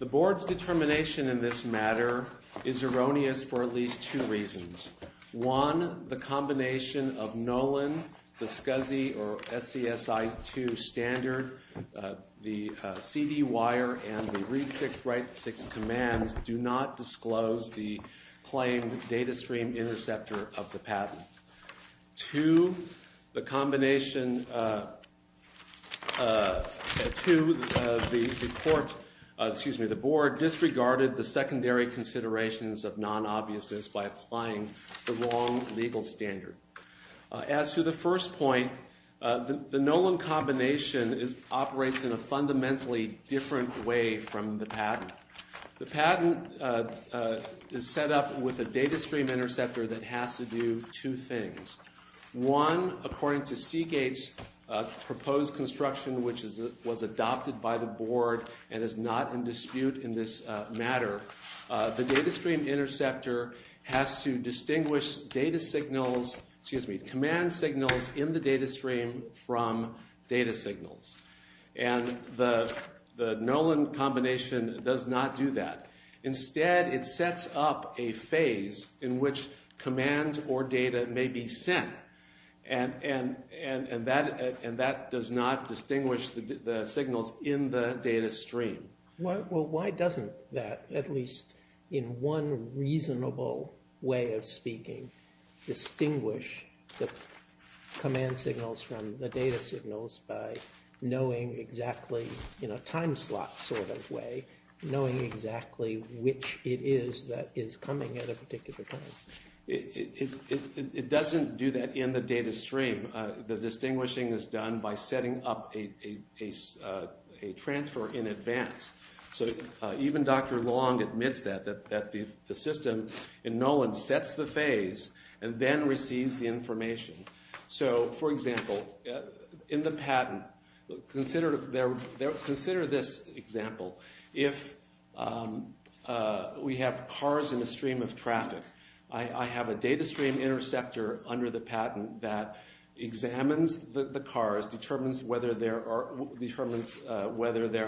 The Board's determination in this matter is erroneous for at least two reasons. One, the combination of Nolan, the SCSI or SCSI-2 standard, the CD wire, and the Read-6-Write-6 commands do not disclose the claimed data stream interceptor of the patent. Two, the Board disregarded the secondary considerations of non-obviousness by applying the wrong legal standard. As to the first point, the Nolan combination operates in a fundamentally different way from the patent. The patent is set up with a data stream interceptor that has to do two things. One, according to Seagate's proposed construction, which was adopted by the Board and is not in dispute in this matter, the data stream interceptor has to distinguish command signals in the data stream from data signals. And the Nolan combination does not do that. Instead, it sets up a phase in which commands or data may be sent, and that does not distinguish the signals in the data stream. Well, why doesn't that, at least in one reasonable way of speaking, distinguish the command signals from the data signals by knowing exactly, in a time slot sort of way, knowing exactly which it is that is coming at a particular time? It doesn't do that in the data stream. The distinguishing is done by setting up a transfer in advance. So even Dr. Long admits that, that the system in Nolan sets the phase and then receives the information. So, for example, in the patent, consider this example. If we have cars in a stream of traffic, I have a data stream interceptor under the patent that examines the cars, determines whether there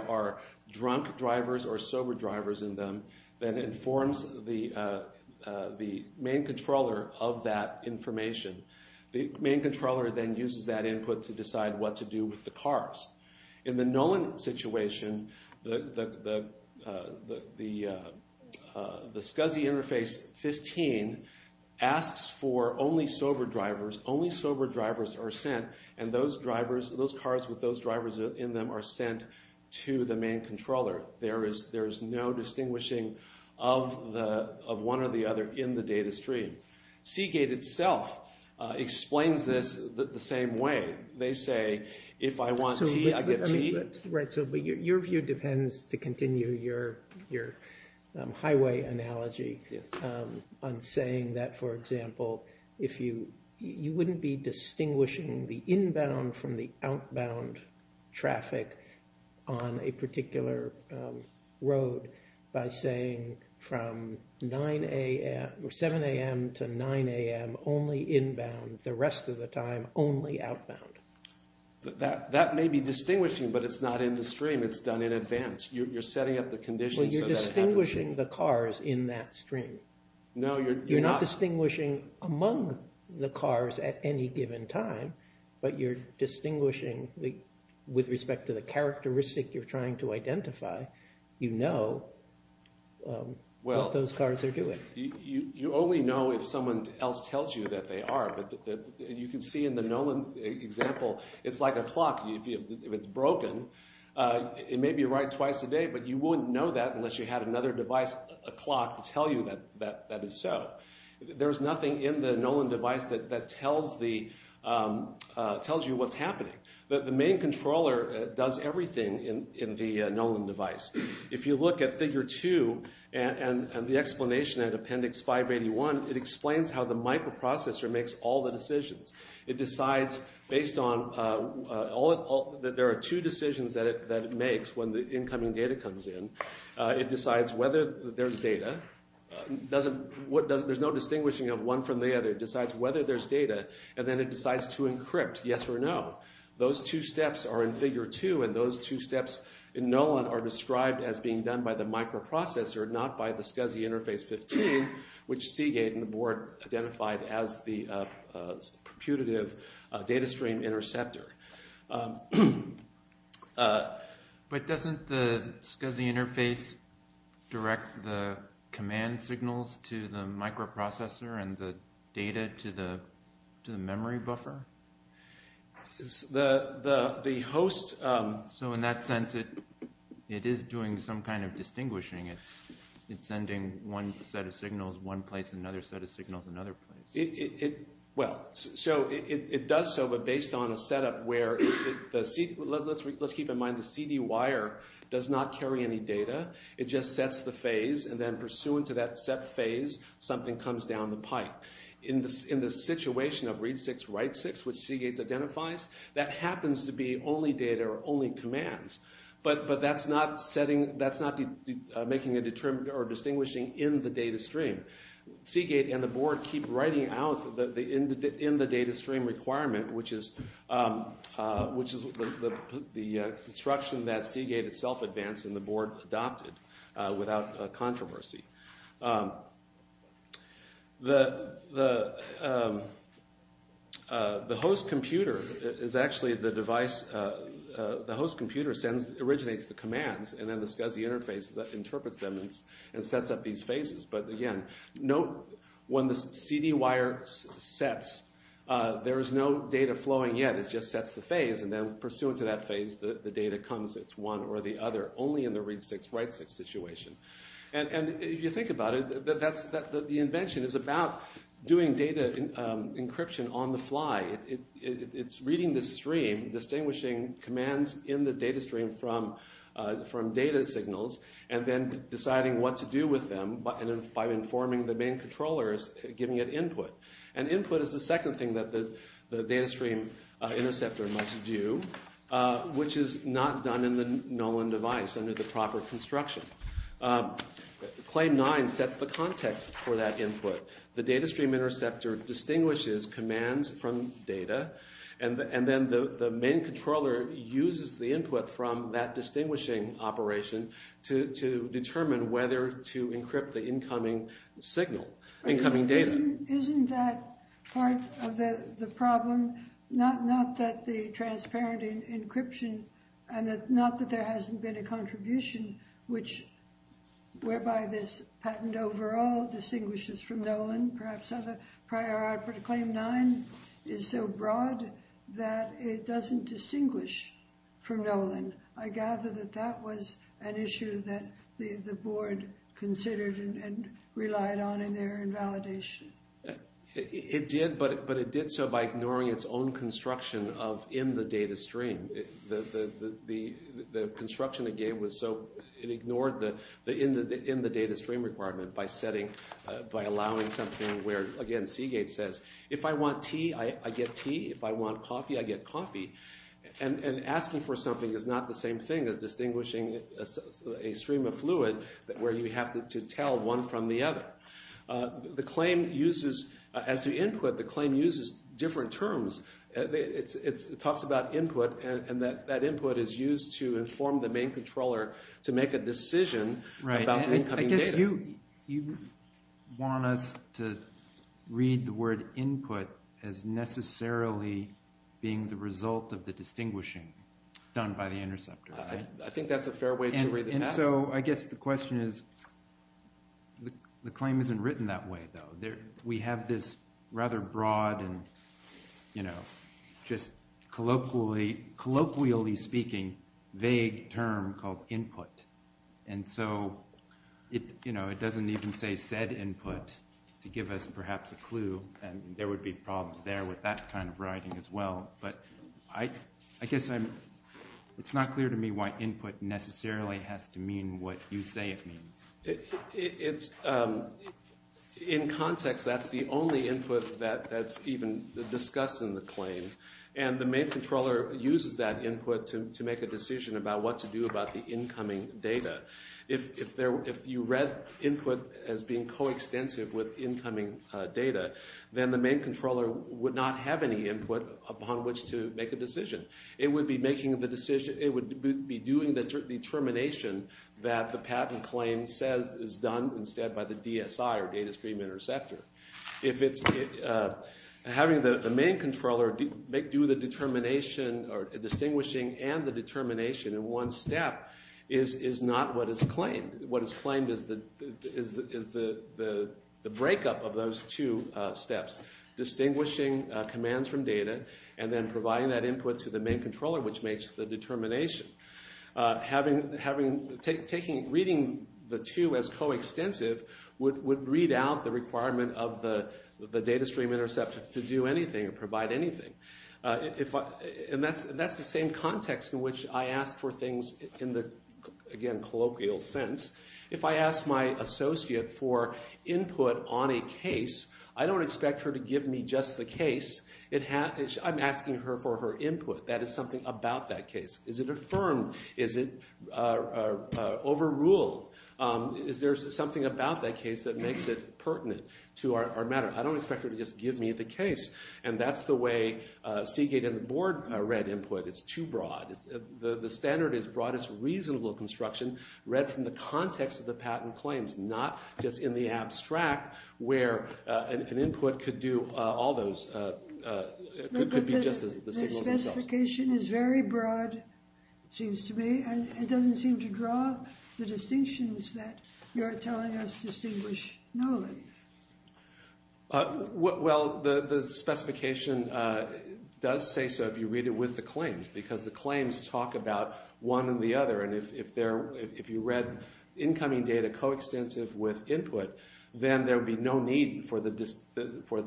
are drunk drivers or sober drivers in them, then informs the main controller of that information. The main controller then uses that input to decide what to do with the cars. In the Nolan situation, the SCSI interface 15 asks for only sober drivers, only sober drivers are sent, and those drivers, those cars with those drivers in them are sent to the main controller. There is no distinguishing of one or the other in the data stream. Seagate itself explains this the same way. They say, if I want tea, I get tea. Your view depends, to continue your highway analogy, on saying that, for example, you wouldn't be distinguishing the inbound from the outbound traffic on a particular road by saying from 7 a.m. to 9 a.m. only inbound, the rest of the time only outbound. That may be distinguishing, but it's not in the stream. It's done in advance. You're setting up the conditions so that it happens. Well, you're distinguishing the cars in that stream. No, you're not. You're not distinguishing among the cars at any given time, but you're distinguishing with respect to the characteristic you're trying to identify. You know what those cars are doing. You only know if someone else tells you that they are. You can see in the Nolan example, it's like a clock. If it's broken, it may be right twice a day, but you wouldn't know that unless you had another device, a clock, to tell you that that is so. There's nothing in the Nolan device that tells you what's happening. The main controller does everything in the Nolan device. If you look at Figure 2 and the explanation at Appendix 581, it explains how the microprocessor makes all the decisions. It decides based on – there are two decisions that it makes when the incoming data comes in. It decides whether there's data. There's no distinguishing of one from the other. It decides whether there's data, and then it decides to encrypt, yes or no. Those two steps are in Figure 2, and those two steps in Nolan are described as being done by the microprocessor, not by the SCSI Interface 15, which Seagate and the board identified as the computative data stream interceptor. But doesn't the SCSI Interface direct the command signals to the microprocessor and the data to the memory buffer? The host – So in that sense, it is doing some kind of distinguishing. It's sending one set of signals one place and another set of signals another place. Well, so it does so, but based on a setup where the – let's keep in mind the CD wire does not carry any data. It just sets the phase, and then pursuant to that set phase, something comes down the pipe. In the situation of read six, write six, which Seagate identifies, that happens to be only data or only commands, but that's not setting – that's not making a – or distinguishing in the data stream. Seagate and the board keep writing out in the data stream requirement, which is the instruction that Seagate itself advanced and the board adopted without controversy. The host computer is actually the device – the host computer originates the commands, and then the SCSI Interface interprets them and sets up these phases. But again, note when the CD wire sets, there is no data flowing yet. It just sets the phase, and then pursuant to that phase, the data comes. It's one or the other, only in the read six, write six situation. And if you think about it, that's – the invention is about doing data encryption on the fly. It's reading the stream, distinguishing commands in the data stream from data signals, and then deciding what to do with them by informing the main controllers, giving it input. And input is the second thing that the data stream interceptor must do, which is not done in the Nolan device under the proper construction. Claim nine sets the context for that input. The data stream interceptor distinguishes commands from data, and then the main controller uses the input from that distinguishing operation to determine whether to encrypt the incoming signal, incoming data. Isn't that part of the problem? Not that the transparent encryption, and not that there hasn't been a contribution, which – whereby this patent overall distinguishes from Nolan. Perhaps other prior art, but claim nine is so broad that it doesn't distinguish from Nolan. I gather that that was an issue that the board considered and relied on in their invalidation. It did, but it did so by ignoring its own construction of in the data stream. The construction it gave was so – it ignored the in the data stream requirement by setting – by allowing something where, again, Seagate says, if I want tea, I get tea. If I want coffee, I get coffee. And asking for something is not the same thing as distinguishing a stream of fluid where you have to tell one from the other. The claim uses – as to input, the claim uses different terms. It talks about input, and that input is used to inform the main controller to make a decision about the incoming data. Right, and I guess you want us to read the word input as necessarily being the result of the distinguishing done by the interceptor. I think that's a fair way to read the patent. Yeah, so I guess the question is the claim isn't written that way, though. We have this rather broad and just colloquially speaking vague term called input. And so it doesn't even say said input to give us perhaps a clue, and there would be problems there with that kind of writing as well. But I guess I'm – it's not clear to me why input necessarily has to mean what you say it means. It's – in context, that's the only input that's even discussed in the claim. And the main controller uses that input to make a decision about what to do about the incoming data. If you read input as being coextensive with incoming data, then the main controller would not have any input upon which to make a decision. It would be making the decision – it would be doing the determination that the patent claim says is done instead by the DSI or data stream interceptor. If it's – having the main controller do the determination or distinguishing and the determination in one step is not what is claimed. What is claimed is the breakup of those two steps, distinguishing commands from data and then providing that input to the main controller, which makes the determination. Having – taking – reading the two as coextensive would read out the requirement of the data stream interceptor to do anything or provide anything. And that's the same context in which I ask for things in the, again, colloquial sense. If I ask my associate for input on a case, I don't expect her to give me just the case. I'm asking her for her input. That is something about that case. Is it affirmed? Is it overruled? Is there something about that case that makes it pertinent to our matter? I don't expect her to just give me the case. And that's the way Seagate and the board read input. It's too broad. The standard is broadest reasonable construction read from the context of the patent claims, not just in the abstract where an input could do all those – could be just as the signals themselves. The specification is very broad, it seems to me. And it doesn't seem to draw the distinctions that you're telling us distinguish knowing. Well, the specification does say so if you read it with the claims because the claims talk about one and the other. And if there – if you read incoming data coextensive with input, then there would be no need for the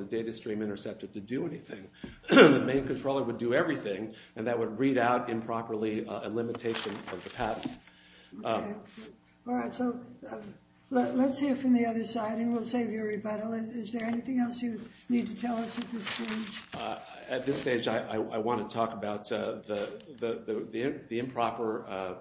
data stream interceptor to do anything. The main controller would do everything, and that would read out improperly a limitation of the patent. Okay. All right. So let's hear from the other side, and we'll save you a rebuttal. Is there anything else you need to tell us at this stage? At this stage, I want to talk about the improper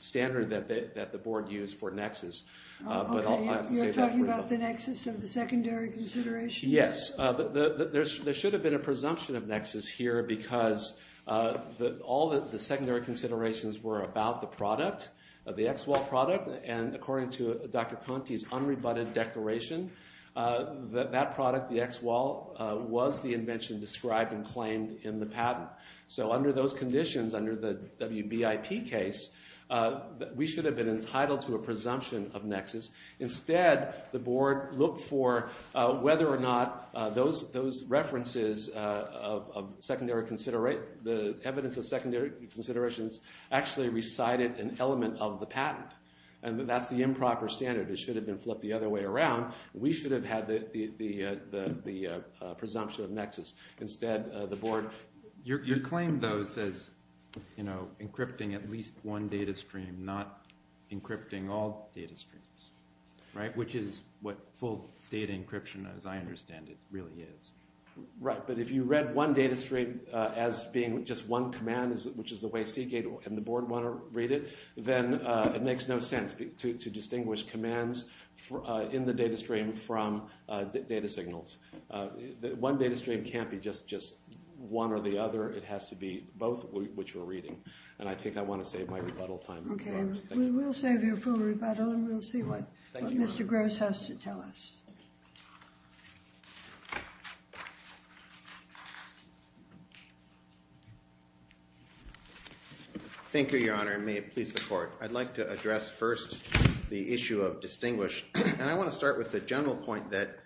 standard that the board used for nexus. Okay. You're talking about the nexus of the secondary consideration? Yes. There should have been a presumption of nexus here because all the secondary considerations were about the product, the ExWall product. And according to Dr. Conti's unrebutted declaration, that product, the ExWall, was the invention described and claimed in the patent. So under those conditions, under the WBIP case, we should have been entitled to a presumption of nexus. Instead, the board looked for whether or not those references of the evidence of secondary considerations actually recited an element of the patent. And that's the improper standard. It should have been flipped the other way around. We should have had the presumption of nexus. Your claim, though, says encrypting at least one data stream, not encrypting all data streams, which is what full data encryption, as I understand it, really is. Right. But if you read one data stream as being just one command, which is the way Seagate and the board want to read it, then it makes no sense to distinguish commands in the data stream from data signals. One data stream can't be just one or the other. It has to be both, which we're reading. And I think I want to save my rebuttal time. Okay. We will save your full rebuttal, and we'll see what Mr. Gross has to tell us. Thank you, Your Honor, and may it please the Court. I'd like to address first the issue of distinguished. And I want to start with the general point that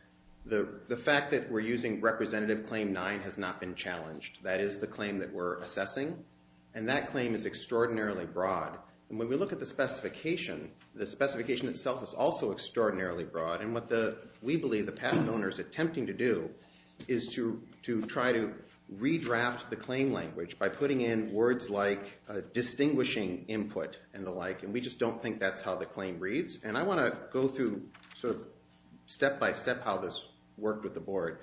the fact that we're using Representative Claim 9 has not been challenged. That is the claim that we're assessing, and that claim is extraordinarily broad. And when we look at the specification, the specification itself is also extraordinarily broad. And what we believe the patent owner is attempting to do is to try to redraft the claim language by putting in words like distinguishing input and the like. And we just don't think that's how the claim reads. And I want to go through sort of step-by-step how this worked with the board.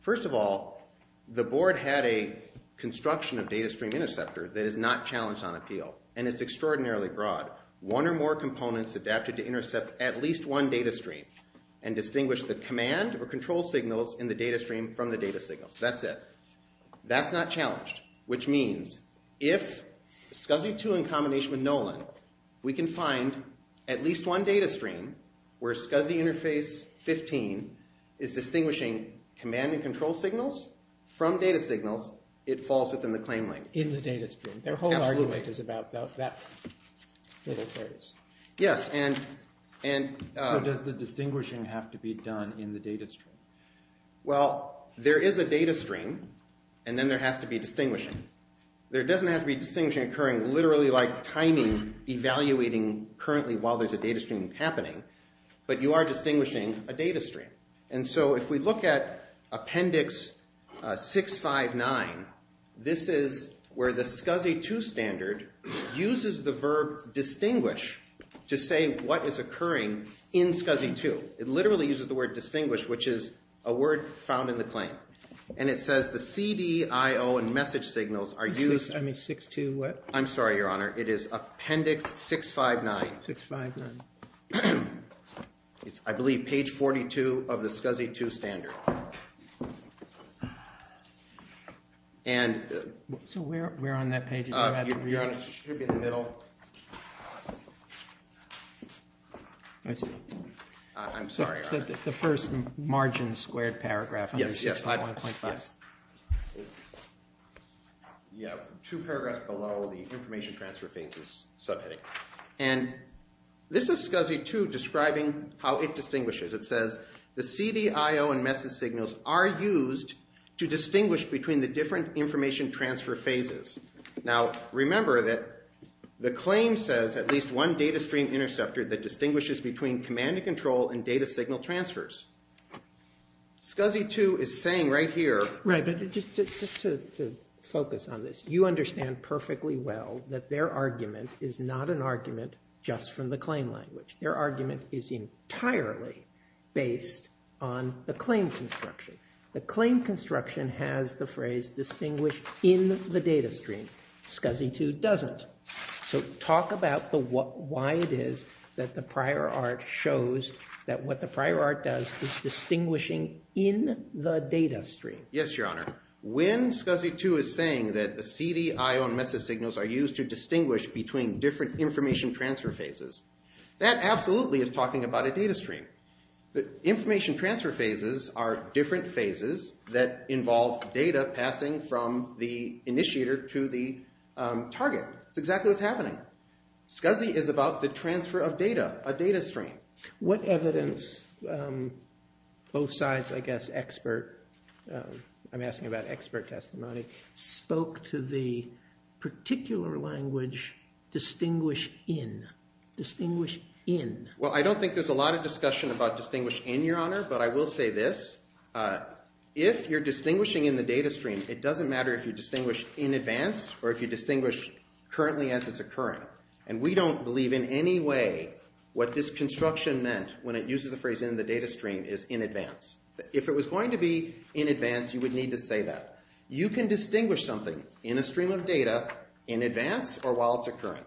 First of all, the board had a construction of data stream interceptor that is not challenged on appeal, and it's extraordinarily broad. One or more components adapted to intercept at least one data stream and distinguish the command or control signals in the data stream from the data signal. That's it. That's not challenged, which means if SCSI 2 in combination with Nolan, we can find at least one data stream where SCSI Interface 15 is distinguishing command and control signals from data signals. It falls within the claim length. In the data stream. Absolutely. The claim length is about that little phrase. Yes. Does the distinguishing have to be done in the data stream? Well, there is a data stream, and then there has to be distinguishing. There doesn't have to be distinguishing occurring literally like timing evaluating currently while there's a data stream happening, but you are distinguishing a data stream. And so if we look at appendix 659, this is where the SCSI 2 standard uses the verb distinguish to say what is occurring in SCSI 2. It literally uses the word distinguish, which is a word found in the claim, and it says the CDIO and message signals are used. I mean, 62 what? I'm sorry, Your Honor. It is appendix 659. 659. It's, I believe, page 42 of the SCSI 2 standard. So where on that page is it? It should be in the middle. I'm sorry, Your Honor. The first margin squared paragraph. Yes, yes. Two paragraphs below the information transfer phase is subheading. And this is SCSI 2 describing how it distinguishes. It says the CDIO and message signals are used to distinguish between the different information transfer phases. Now, remember that the claim says at least one data stream interceptor that distinguishes between command and control and data signal transfers. SCSI 2 is saying right here. Right, but just to focus on this, you understand perfectly well that their argument is not an argument just from the claim language. Their argument is entirely based on the claim construction. The claim construction has the phrase distinguish in the data stream. SCSI 2 doesn't. So talk about why it is that the prior art shows that what the prior art does is distinguishing in the data stream. Yes, Your Honor. When SCSI 2 is saying that the CDIO and message signals are used to distinguish between different information transfer phases, that absolutely is talking about a data stream. The information transfer phases are different phases that involve data passing from the initiator to the target. It's exactly what's happening. SCSI is about the transfer of data, a data stream. What evidence both sides, I guess, expert, I'm asking about expert testimony, spoke to the particular language distinguish in? Distinguish in. Well, I don't think there's a lot of discussion about distinguish in, Your Honor, but I will say this. If you're distinguishing in the data stream, it doesn't matter if you distinguish in advance or if you distinguish currently as it's occurring. And we don't believe in any way what this construction meant when it uses the phrase in the data stream is in advance. If it was going to be in advance, you would need to say that. You can distinguish something in a stream of data in advance or while it's occurring.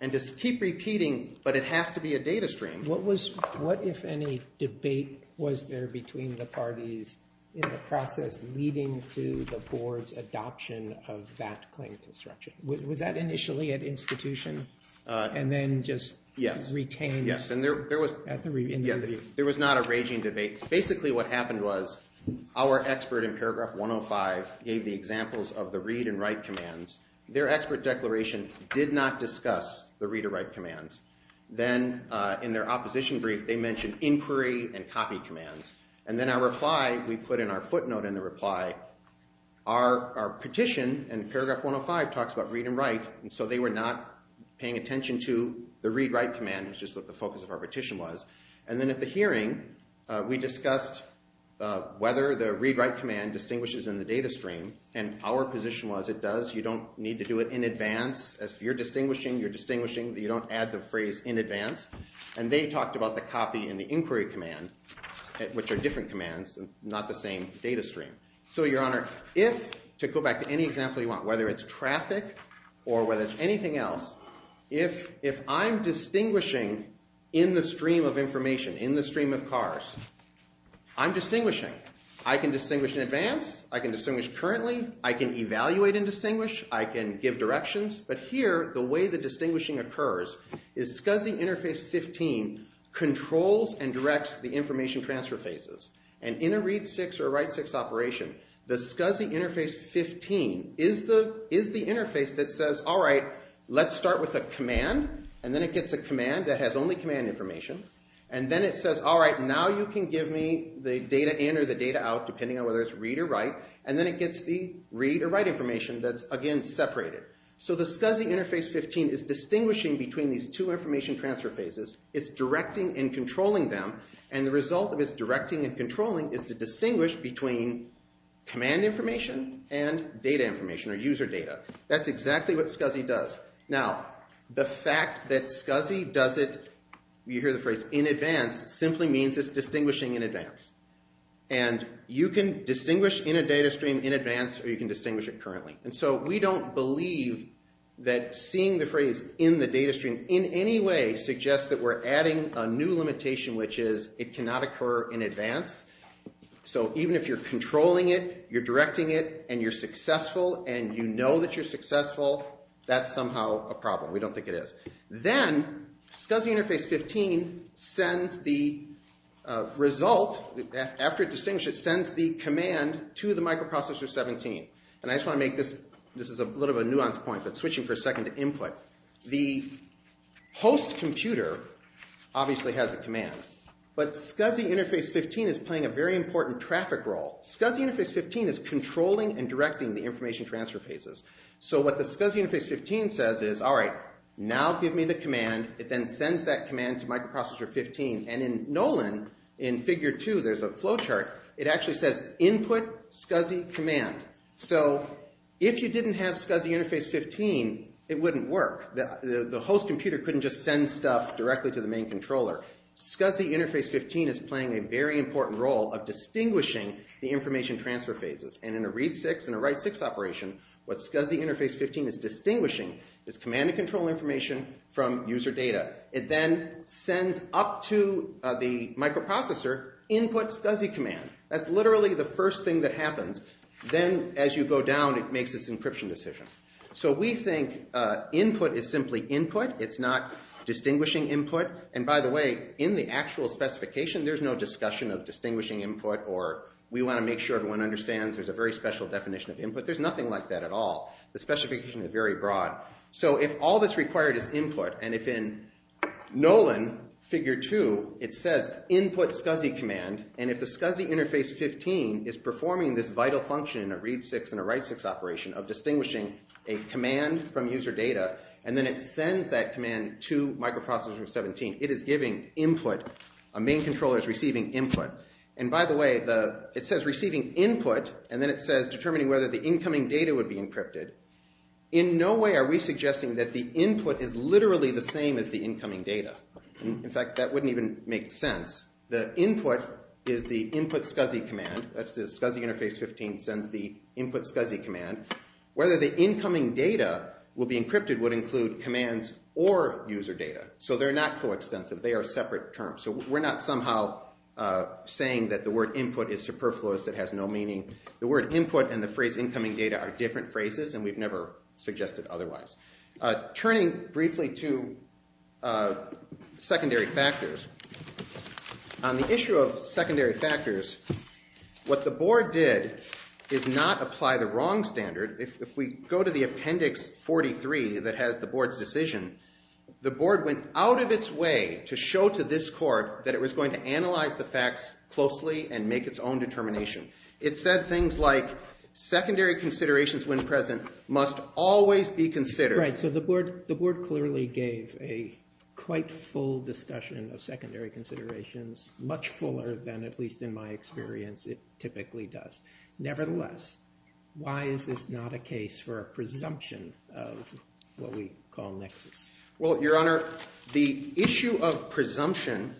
And just keep repeating, but it has to be a data stream. What if any debate was there between the parties in the process leading to the board's adoption of that claim construction? Was that initially at institution and then just retained in the review? Yes, and there was not a raging debate. Basically what happened was our expert in paragraph 105 gave the examples of the read and write commands. Their expert declaration did not discuss the read or write commands. Then in their opposition brief, they mentioned inquiry and copy commands. And then our reply, we put in our footnote in the reply, our petition in paragraph 105 talks about read and write. And so they were not paying attention to the read write command, which is what the focus of our petition was. And then at the hearing, we discussed whether the read write command distinguishes in the data stream. And our position was it does. You don't need to do it in advance. If you're distinguishing, you're distinguishing. You don't add the phrase in advance. And they talked about the copy and the inquiry command, which are different commands, not the same data stream. So, Your Honor, if, to go back to any example you want, whether it's traffic or whether it's anything else, if I'm distinguishing in the stream of information, in the stream of cars, I'm distinguishing. I can distinguish in advance. I can distinguish currently. I can evaluate and distinguish. I can give directions. But here, the way the distinguishing occurs is SCSI Interface 15 controls and directs the information transfer phases. And in a read six or a write six operation, the SCSI Interface 15 is the interface that says, all right, let's start with a command. And then it gets a command that has only command information. And then it says, all right, now you can give me the data in or the data out, depending on whether it's read or write. And then it gets the read or write information that's, again, separated. So the SCSI Interface 15 is distinguishing between these two information transfer phases. It's directing and controlling them. And the result of its directing and controlling is to distinguish between command information and data information or user data. That's exactly what SCSI does. Now, the fact that SCSI does it, you hear the phrase, in advance, simply means it's distinguishing in advance. And you can distinguish in a data stream in advance or you can distinguish it currently. And so we don't believe that seeing the phrase in the data stream in any way suggests that we're adding a new limitation, which is it cannot occur in advance. So even if you're controlling it, you're directing it, and you're successful, and you know that you're successful, that's somehow a problem. We don't think it is. Then SCSI Interface 15 sends the result. After it distinguishes, it sends the command to the microprocessor 17. And I just want to make this, this is a little of a nuanced point, but switching for a second to input. The host computer obviously has a command. But SCSI Interface 15 is playing a very important traffic role. SCSI Interface 15 is controlling and directing the information transfer phases. So what the SCSI Interface 15 says is, all right, now give me the command. It then sends that command to microprocessor 15. And in Nolan, in Figure 2, there's a flow chart. It actually says input SCSI command. So if you didn't have SCSI Interface 15, it wouldn't work. The host computer couldn't just send stuff directly to the main controller. SCSI Interface 15 is playing a very important role of distinguishing the information transfer phases. And in a read 6 and a write 6 operation, what SCSI Interface 15 is distinguishing is command and control information from user data. It then sends up to the microprocessor input SCSI command. That's literally the first thing that happens. Then as you go down, it makes its encryption decision. So we think input is simply input. It's not distinguishing input. And by the way, in the actual specification, there's no discussion of distinguishing input or we want to make sure everyone understands there's a very special definition of input. There's nothing like that at all. The specification is very broad. So if all that's required is input, and if in Nolan, Figure 2, it says input SCSI command, and if the SCSI Interface 15 is performing this vital function in a read 6 and a write 6 operation of distinguishing a command from user data, and then it sends that command to microprocessor 17, it is giving input. A main controller is receiving input. And by the way, it says receiving input, and then it says determining whether the incoming data would be encrypted. In no way are we suggesting that the input is literally the same as the incoming data. In fact, that wouldn't even make sense. The input is the input SCSI command. That's the SCSI Interface 15 sends the input SCSI command. Whether the incoming data will be encrypted would include commands or user data. So they're not coextensive. They are separate terms. So we're not somehow saying that the word input is superfluous. It has no meaning. The word input and the phrase incoming data are different phrases, and we've never suggested otherwise. Turning briefly to secondary factors, on the issue of secondary factors, what the board did is not apply the wrong standard. If we go to the Appendix 43 that has the board's decision, the board went out of its way to show to this court that it was going to analyze the facts closely and make its own determination. It said things like secondary considerations when present must always be considered. Right. So the board clearly gave a quite full discussion of secondary considerations, much fuller than at least in my experience it typically does. Nevertheless, why is this not a case for a presumption of what we call nexus? Well, Your Honor, the issue of presumption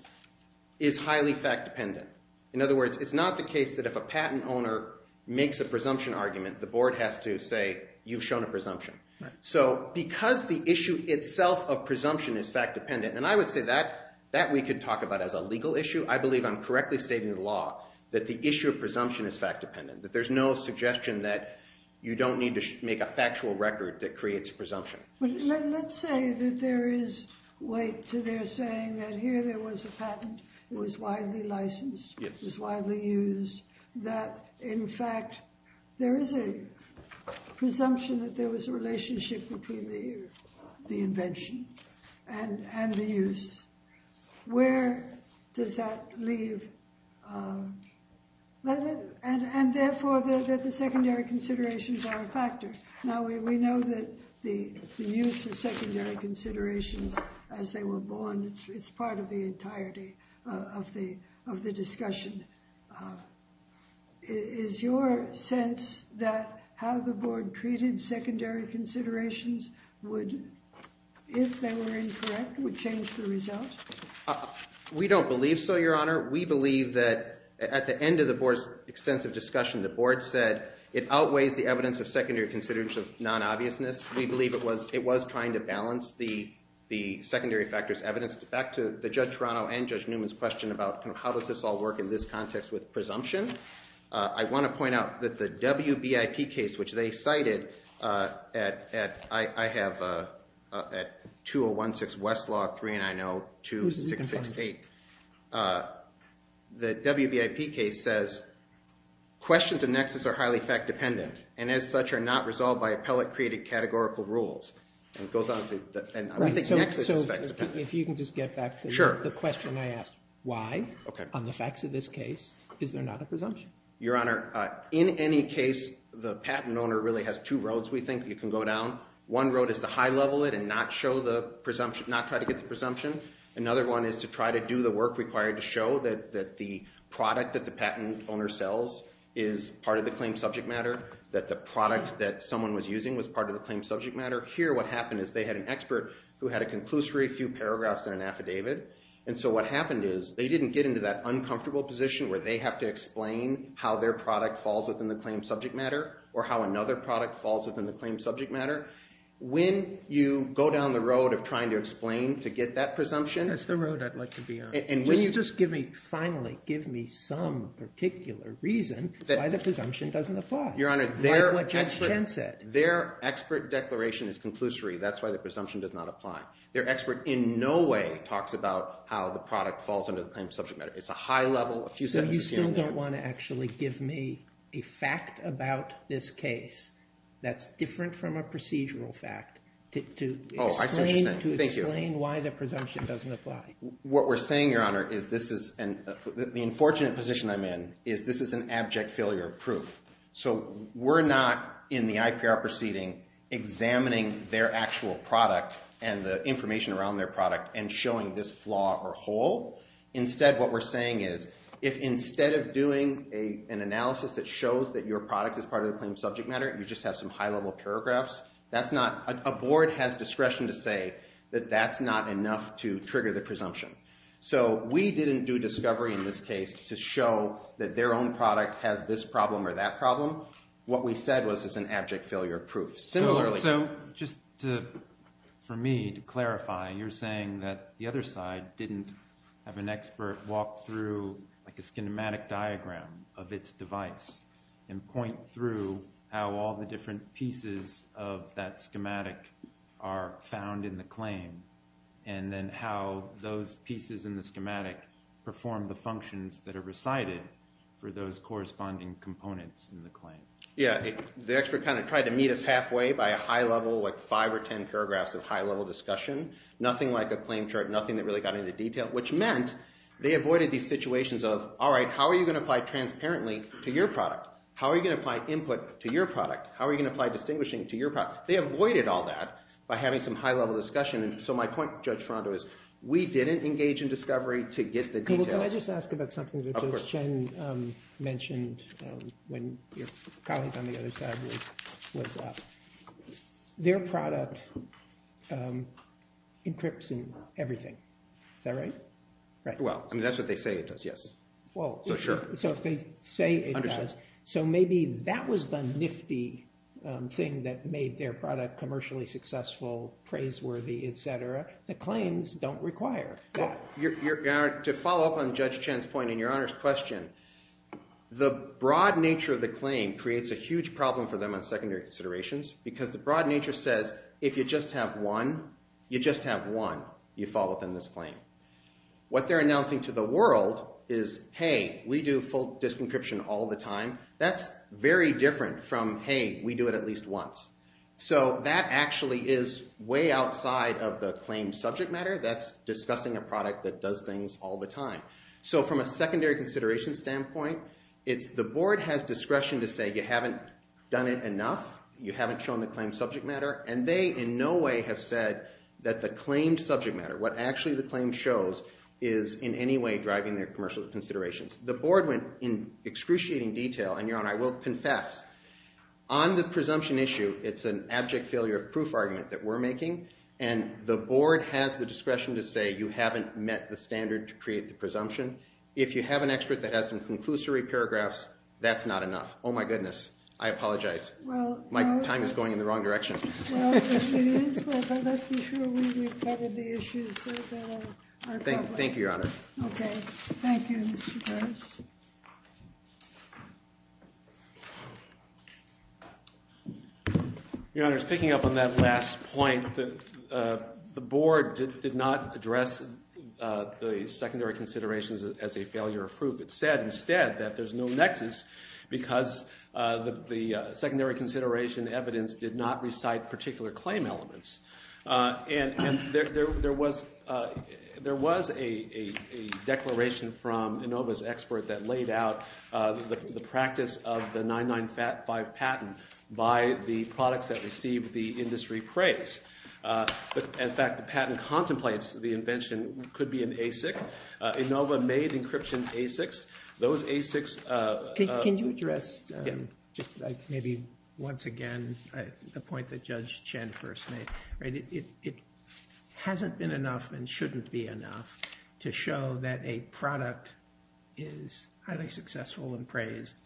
is highly fact-dependent. In other words, it's not the case that if a patent owner makes a presumption argument, the board has to say you've shown a presumption. Right. So because the issue itself of presumption is fact-dependent, and I would say that we could talk about as a legal issue, I believe I'm correctly stating the law that the issue of presumption is fact-dependent, that there's no suggestion that you don't need to make a factual record that creates a presumption. Well, let's say that there is weight to their saying that here there was a patent. It was widely licensed. Yes. It was widely used. That, in fact, there is a presumption that there was a relationship between the invention and the use. Where does that leave? And, therefore, that the secondary considerations are a factor. Now, we know that the use of secondary considerations as they were born, it's part of the entirety of the discussion. Is your sense that how the board treated secondary considerations would, if they were incorrect, would change the result? We don't believe so, Your Honor. We believe that at the end of the board's extensive discussion, the board said it outweighs the evidence of secondary considerations of non-obviousness. We believe it was trying to balance the secondary factors evidence. Back to Judge Toronto and Judge Newman's question about how does this all work in this context with presumption, I want to point out that the WBIP case, which they cited, I have at 201-6 Westlaw, 390-2668. The WBIP case says questions of nexus are highly fact-dependent and, as such, are not resolved by appellate-created categorical rules. If you can just get back to the question I asked, why, on the facts of this case, is there not a presumption? Your Honor, in any case, the patent owner really has two roads we think you can go down. One road is to high-level it and not try to get the presumption. Another one is to try to do the work required to show that the product that the patent owner sells is part of the claim subject matter, that the product that someone was using was part of the claim subject matter. Here, what happened is they had an expert who had a conclusory few paragraphs in an affidavit, and so what happened is they didn't get into that uncomfortable position where they have to explain how their product falls within the claim subject matter or how another product falls within the claim subject matter. When you go down the road of trying to explain to get that presumption— That's the road I'd like to be on. When you just finally give me some particular reason why the presumption doesn't apply. Your Honor, their expert declaration is conclusory. That's why the presumption does not apply. Their expert in no way talks about how the product falls under the claim subject matter. It's a high-level, a few sentences down the road. So you still don't want to actually give me a fact about this case that's different from a procedural fact to explain why the presumption doesn't apply? What we're saying, Your Honor, is this is—the unfortunate position I'm in is this is an abject failure of proof. So we're not in the IPR proceeding examining their actual product and the information around their product and showing this flaw or hole. Instead, what we're saying is if instead of doing an analysis that shows that your product is part of the claim subject matter, you just have some high-level paragraphs, that's not—a board has discretion to say that that's not enough to trigger the presumption. So we didn't do discovery in this case to show that their own product has this problem or that problem. What we said was it's an abject failure of proof. Similarly— pieces of that schematic are found in the claim and then how those pieces in the schematic perform the functions that are recited for those corresponding components in the claim. Yeah, the expert kind of tried to meet us halfway by a high-level, like five or ten paragraphs of high-level discussion. Nothing like a claim chart, nothing that really got into detail, which meant they avoided these situations of, all right, how are you going to apply transparently to your product? How are you going to apply input to your product? How are you going to apply distinguishing to your product? They avoided all that by having some high-level discussion, and so my point, Judge Toronto, is we didn't engage in discovery to get the details. Can I just ask about something that Judge Chen mentioned when your colleague on the other side was up? Their product encrypts in everything. Is that right? Well, I mean, that's what they say it does, yes. Well— So sure. So if they say it does, so maybe that was the nifty thing that made their product commercially successful, praiseworthy, et cetera. The claims don't require that. To follow up on Judge Chen's point and Your Honor's question, the broad nature of the claim creates a huge problem for them on secondary considerations because the broad nature says if you just have one, you just have one, you follow up on this claim. What they're announcing to the world is, hey, we do full disk encryption all the time. That's very different from, hey, we do it at least once. So that actually is way outside of the claim subject matter. That's discussing a product that does things all the time. So from a secondary consideration standpoint, it's the board has discretion to say you haven't done it enough, you haven't shown the claim subject matter, and they in no way have said that the claimed subject matter, what actually the claim shows is in any way driving their commercial considerations. The board went in excruciating detail, and Your Honor, I will confess, on the presumption issue, it's an abject failure of proof argument that we're making, and the board has the discretion to say you haven't met the standard to create the presumption. If you have an expert that has some conclusory paragraphs, that's not enough. Oh, my goodness. I apologize. My time is going in the wrong direction. Well, if it is, let's be sure we've covered the issues. Thank you, Your Honor. OK. Thank you, Mr. Harris. Your Honor, just picking up on that last point, the board did not address the secondary considerations as a failure of proof. It said instead that there's no nexus because the secondary consideration evidence did not recite particular claim elements. And there was a declaration from Inova's expert that laid out the practice of the 995 patent by the products that received the industry praise. In fact, the patent contemplates the invention could be an ASIC. Inova made encryption ASICs. Those ASICs- Can you address just maybe once again the point that Judge Chen first made? It hasn't been enough and shouldn't be enough to show that a product is highly successful and praised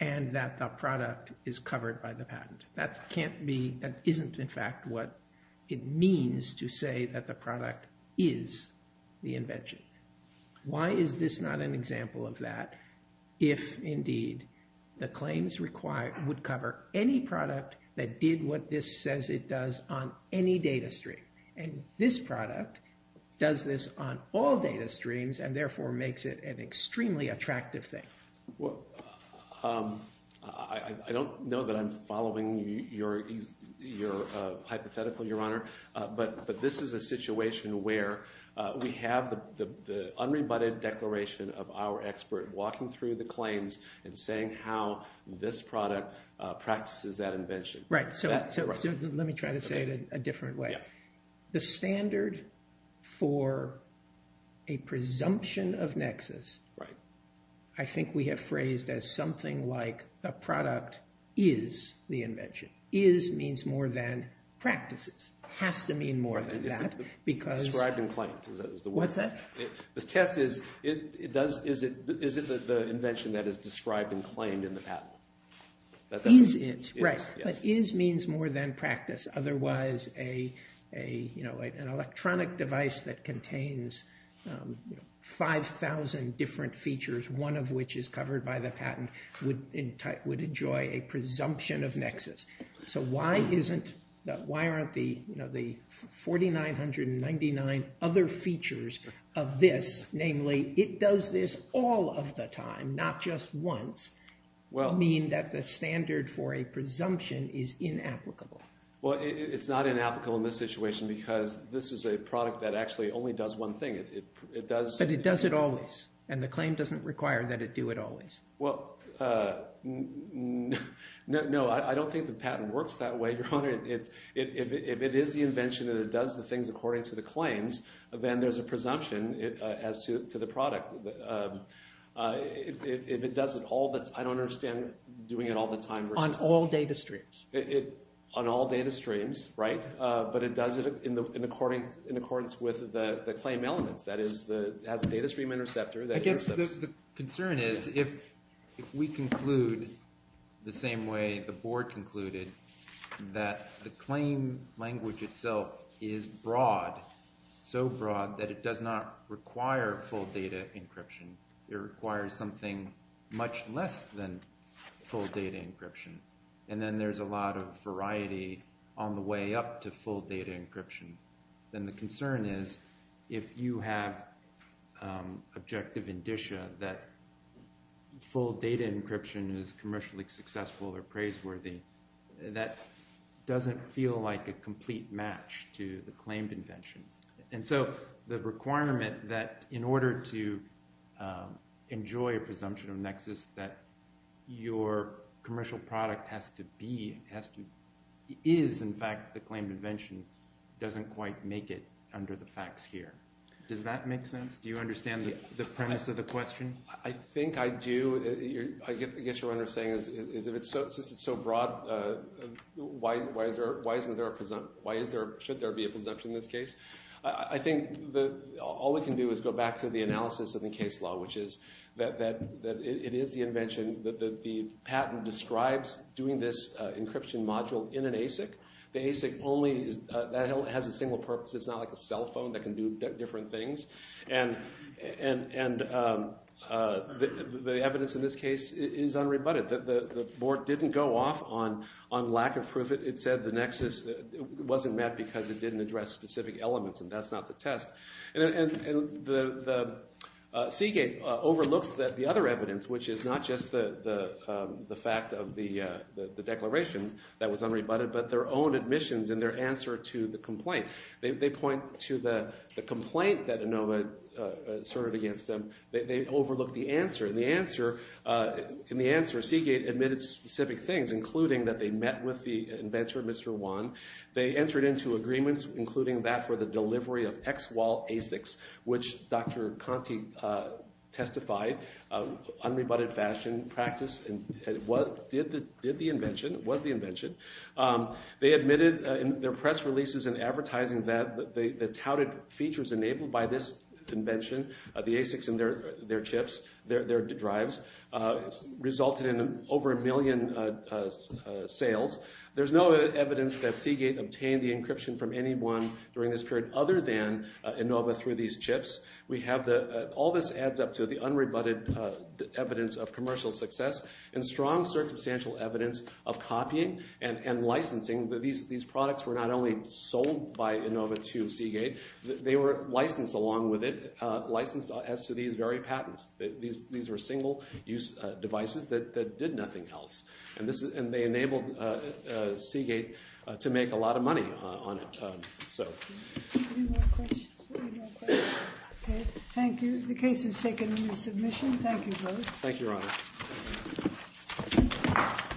and that the product is covered by the patent. That can't be- that isn't, in fact, what it means to say that the product is the invention. Why is this not an example of that if, indeed, the claims would cover any product that did what this says it does on any data stream? And this product does this on all data streams and therefore makes it an extremely attractive thing. Well, I don't know that I'm following your hypothetical, Your Honor, but this is a situation where we have the unrebutted declaration of our expert walking through the claims and saying how this product practices that invention. Right. So let me try to say it a different way. The standard for a presumption of nexus, I think we have phrased as something like a product is the invention. Is means more than practices. Has to mean more than that because- Described and claimed is the word. What's that? The test is, is it the invention that is described and claimed in the patent? Is it, right. But is means more than practice. Otherwise, an electronic device that contains 5,000 different features, one of which is covered by the patent, would enjoy a presumption of nexus. So why aren't the 4,999 other features of this, namely it does this all of the time, not just once, mean that the standard for a presumption is inapplicable? Well, it's not inapplicable in this situation because this is a product that actually only does one thing. It does- But it does it always. And the claim doesn't require that it do it always. Well, no. I don't think the patent works that way, Your Honor. If it is the invention and it does the things according to the claims, then there's a presumption as to the product. If it does it all the- I don't understand doing it all the time versus- On all data streams. On all data streams, right. But it does it in accordance with the claim elements. That is, it has a data stream interceptor that intercepts- The concern is if we conclude the same way the board concluded, that the claim language itself is broad, so broad that it does not require full data encryption. It requires something much less than full data encryption. And then there's a lot of variety on the way up to full data encryption. Then the concern is if you have objective indicia that full data encryption is commercially successful or praiseworthy, that doesn't feel like a complete match to the claimed invention. And so the requirement that in order to enjoy a presumption of nexus that your commercial product has to be- is, in fact, the claimed invention doesn't quite make it under the facts here. Does that make sense? Do you understand the premise of the question? I think I do. I guess what I'm saying is if it's so broad, why is there- should there be a presumption in this case? I think all we can do is go back to the analysis of the case law, which is that it is the invention that the patent describes doing this encryption module in an ASIC. The ASIC only- that has a single purpose. It's not like a cell phone that can do different things. And the evidence in this case is unrebutted. The board didn't go off on lack of proof. It said the nexus wasn't met because it didn't address specific elements, and that's not the test. And the Seagate overlooks the other evidence, which is not just the fact of the declaration that was unrebutted, but their own admissions and their answer to the complaint. They point to the complaint that Inova asserted against them. They overlook the answer. In the answer, Seagate admitted specific things, including that they met with the inventor, Mr. Wan. They entered into agreements, including that for the delivery of ex-wall ASICs, which Dr. Conte testified, unrebutted fashion practice, did the invention, was the invention. They admitted in their press releases and advertising that the touted features enabled by this invention, the ASICs and their chips, their drives, resulted in over a million sales. There's no evidence that Seagate obtained the encryption from anyone during this period other than Inova through these chips. All this adds up to the unrebutted evidence of commercial success and strong circumstantial evidence of copying and licensing. These products were not only sold by Inova to Seagate. They were licensed along with it, licensed as to these very patents. These were single-use devices that did nothing else, and they enabled Seagate to make a lot of money on it. Any more questions? Okay, thank you. The case is taken under submission. Thank you, Your Honor.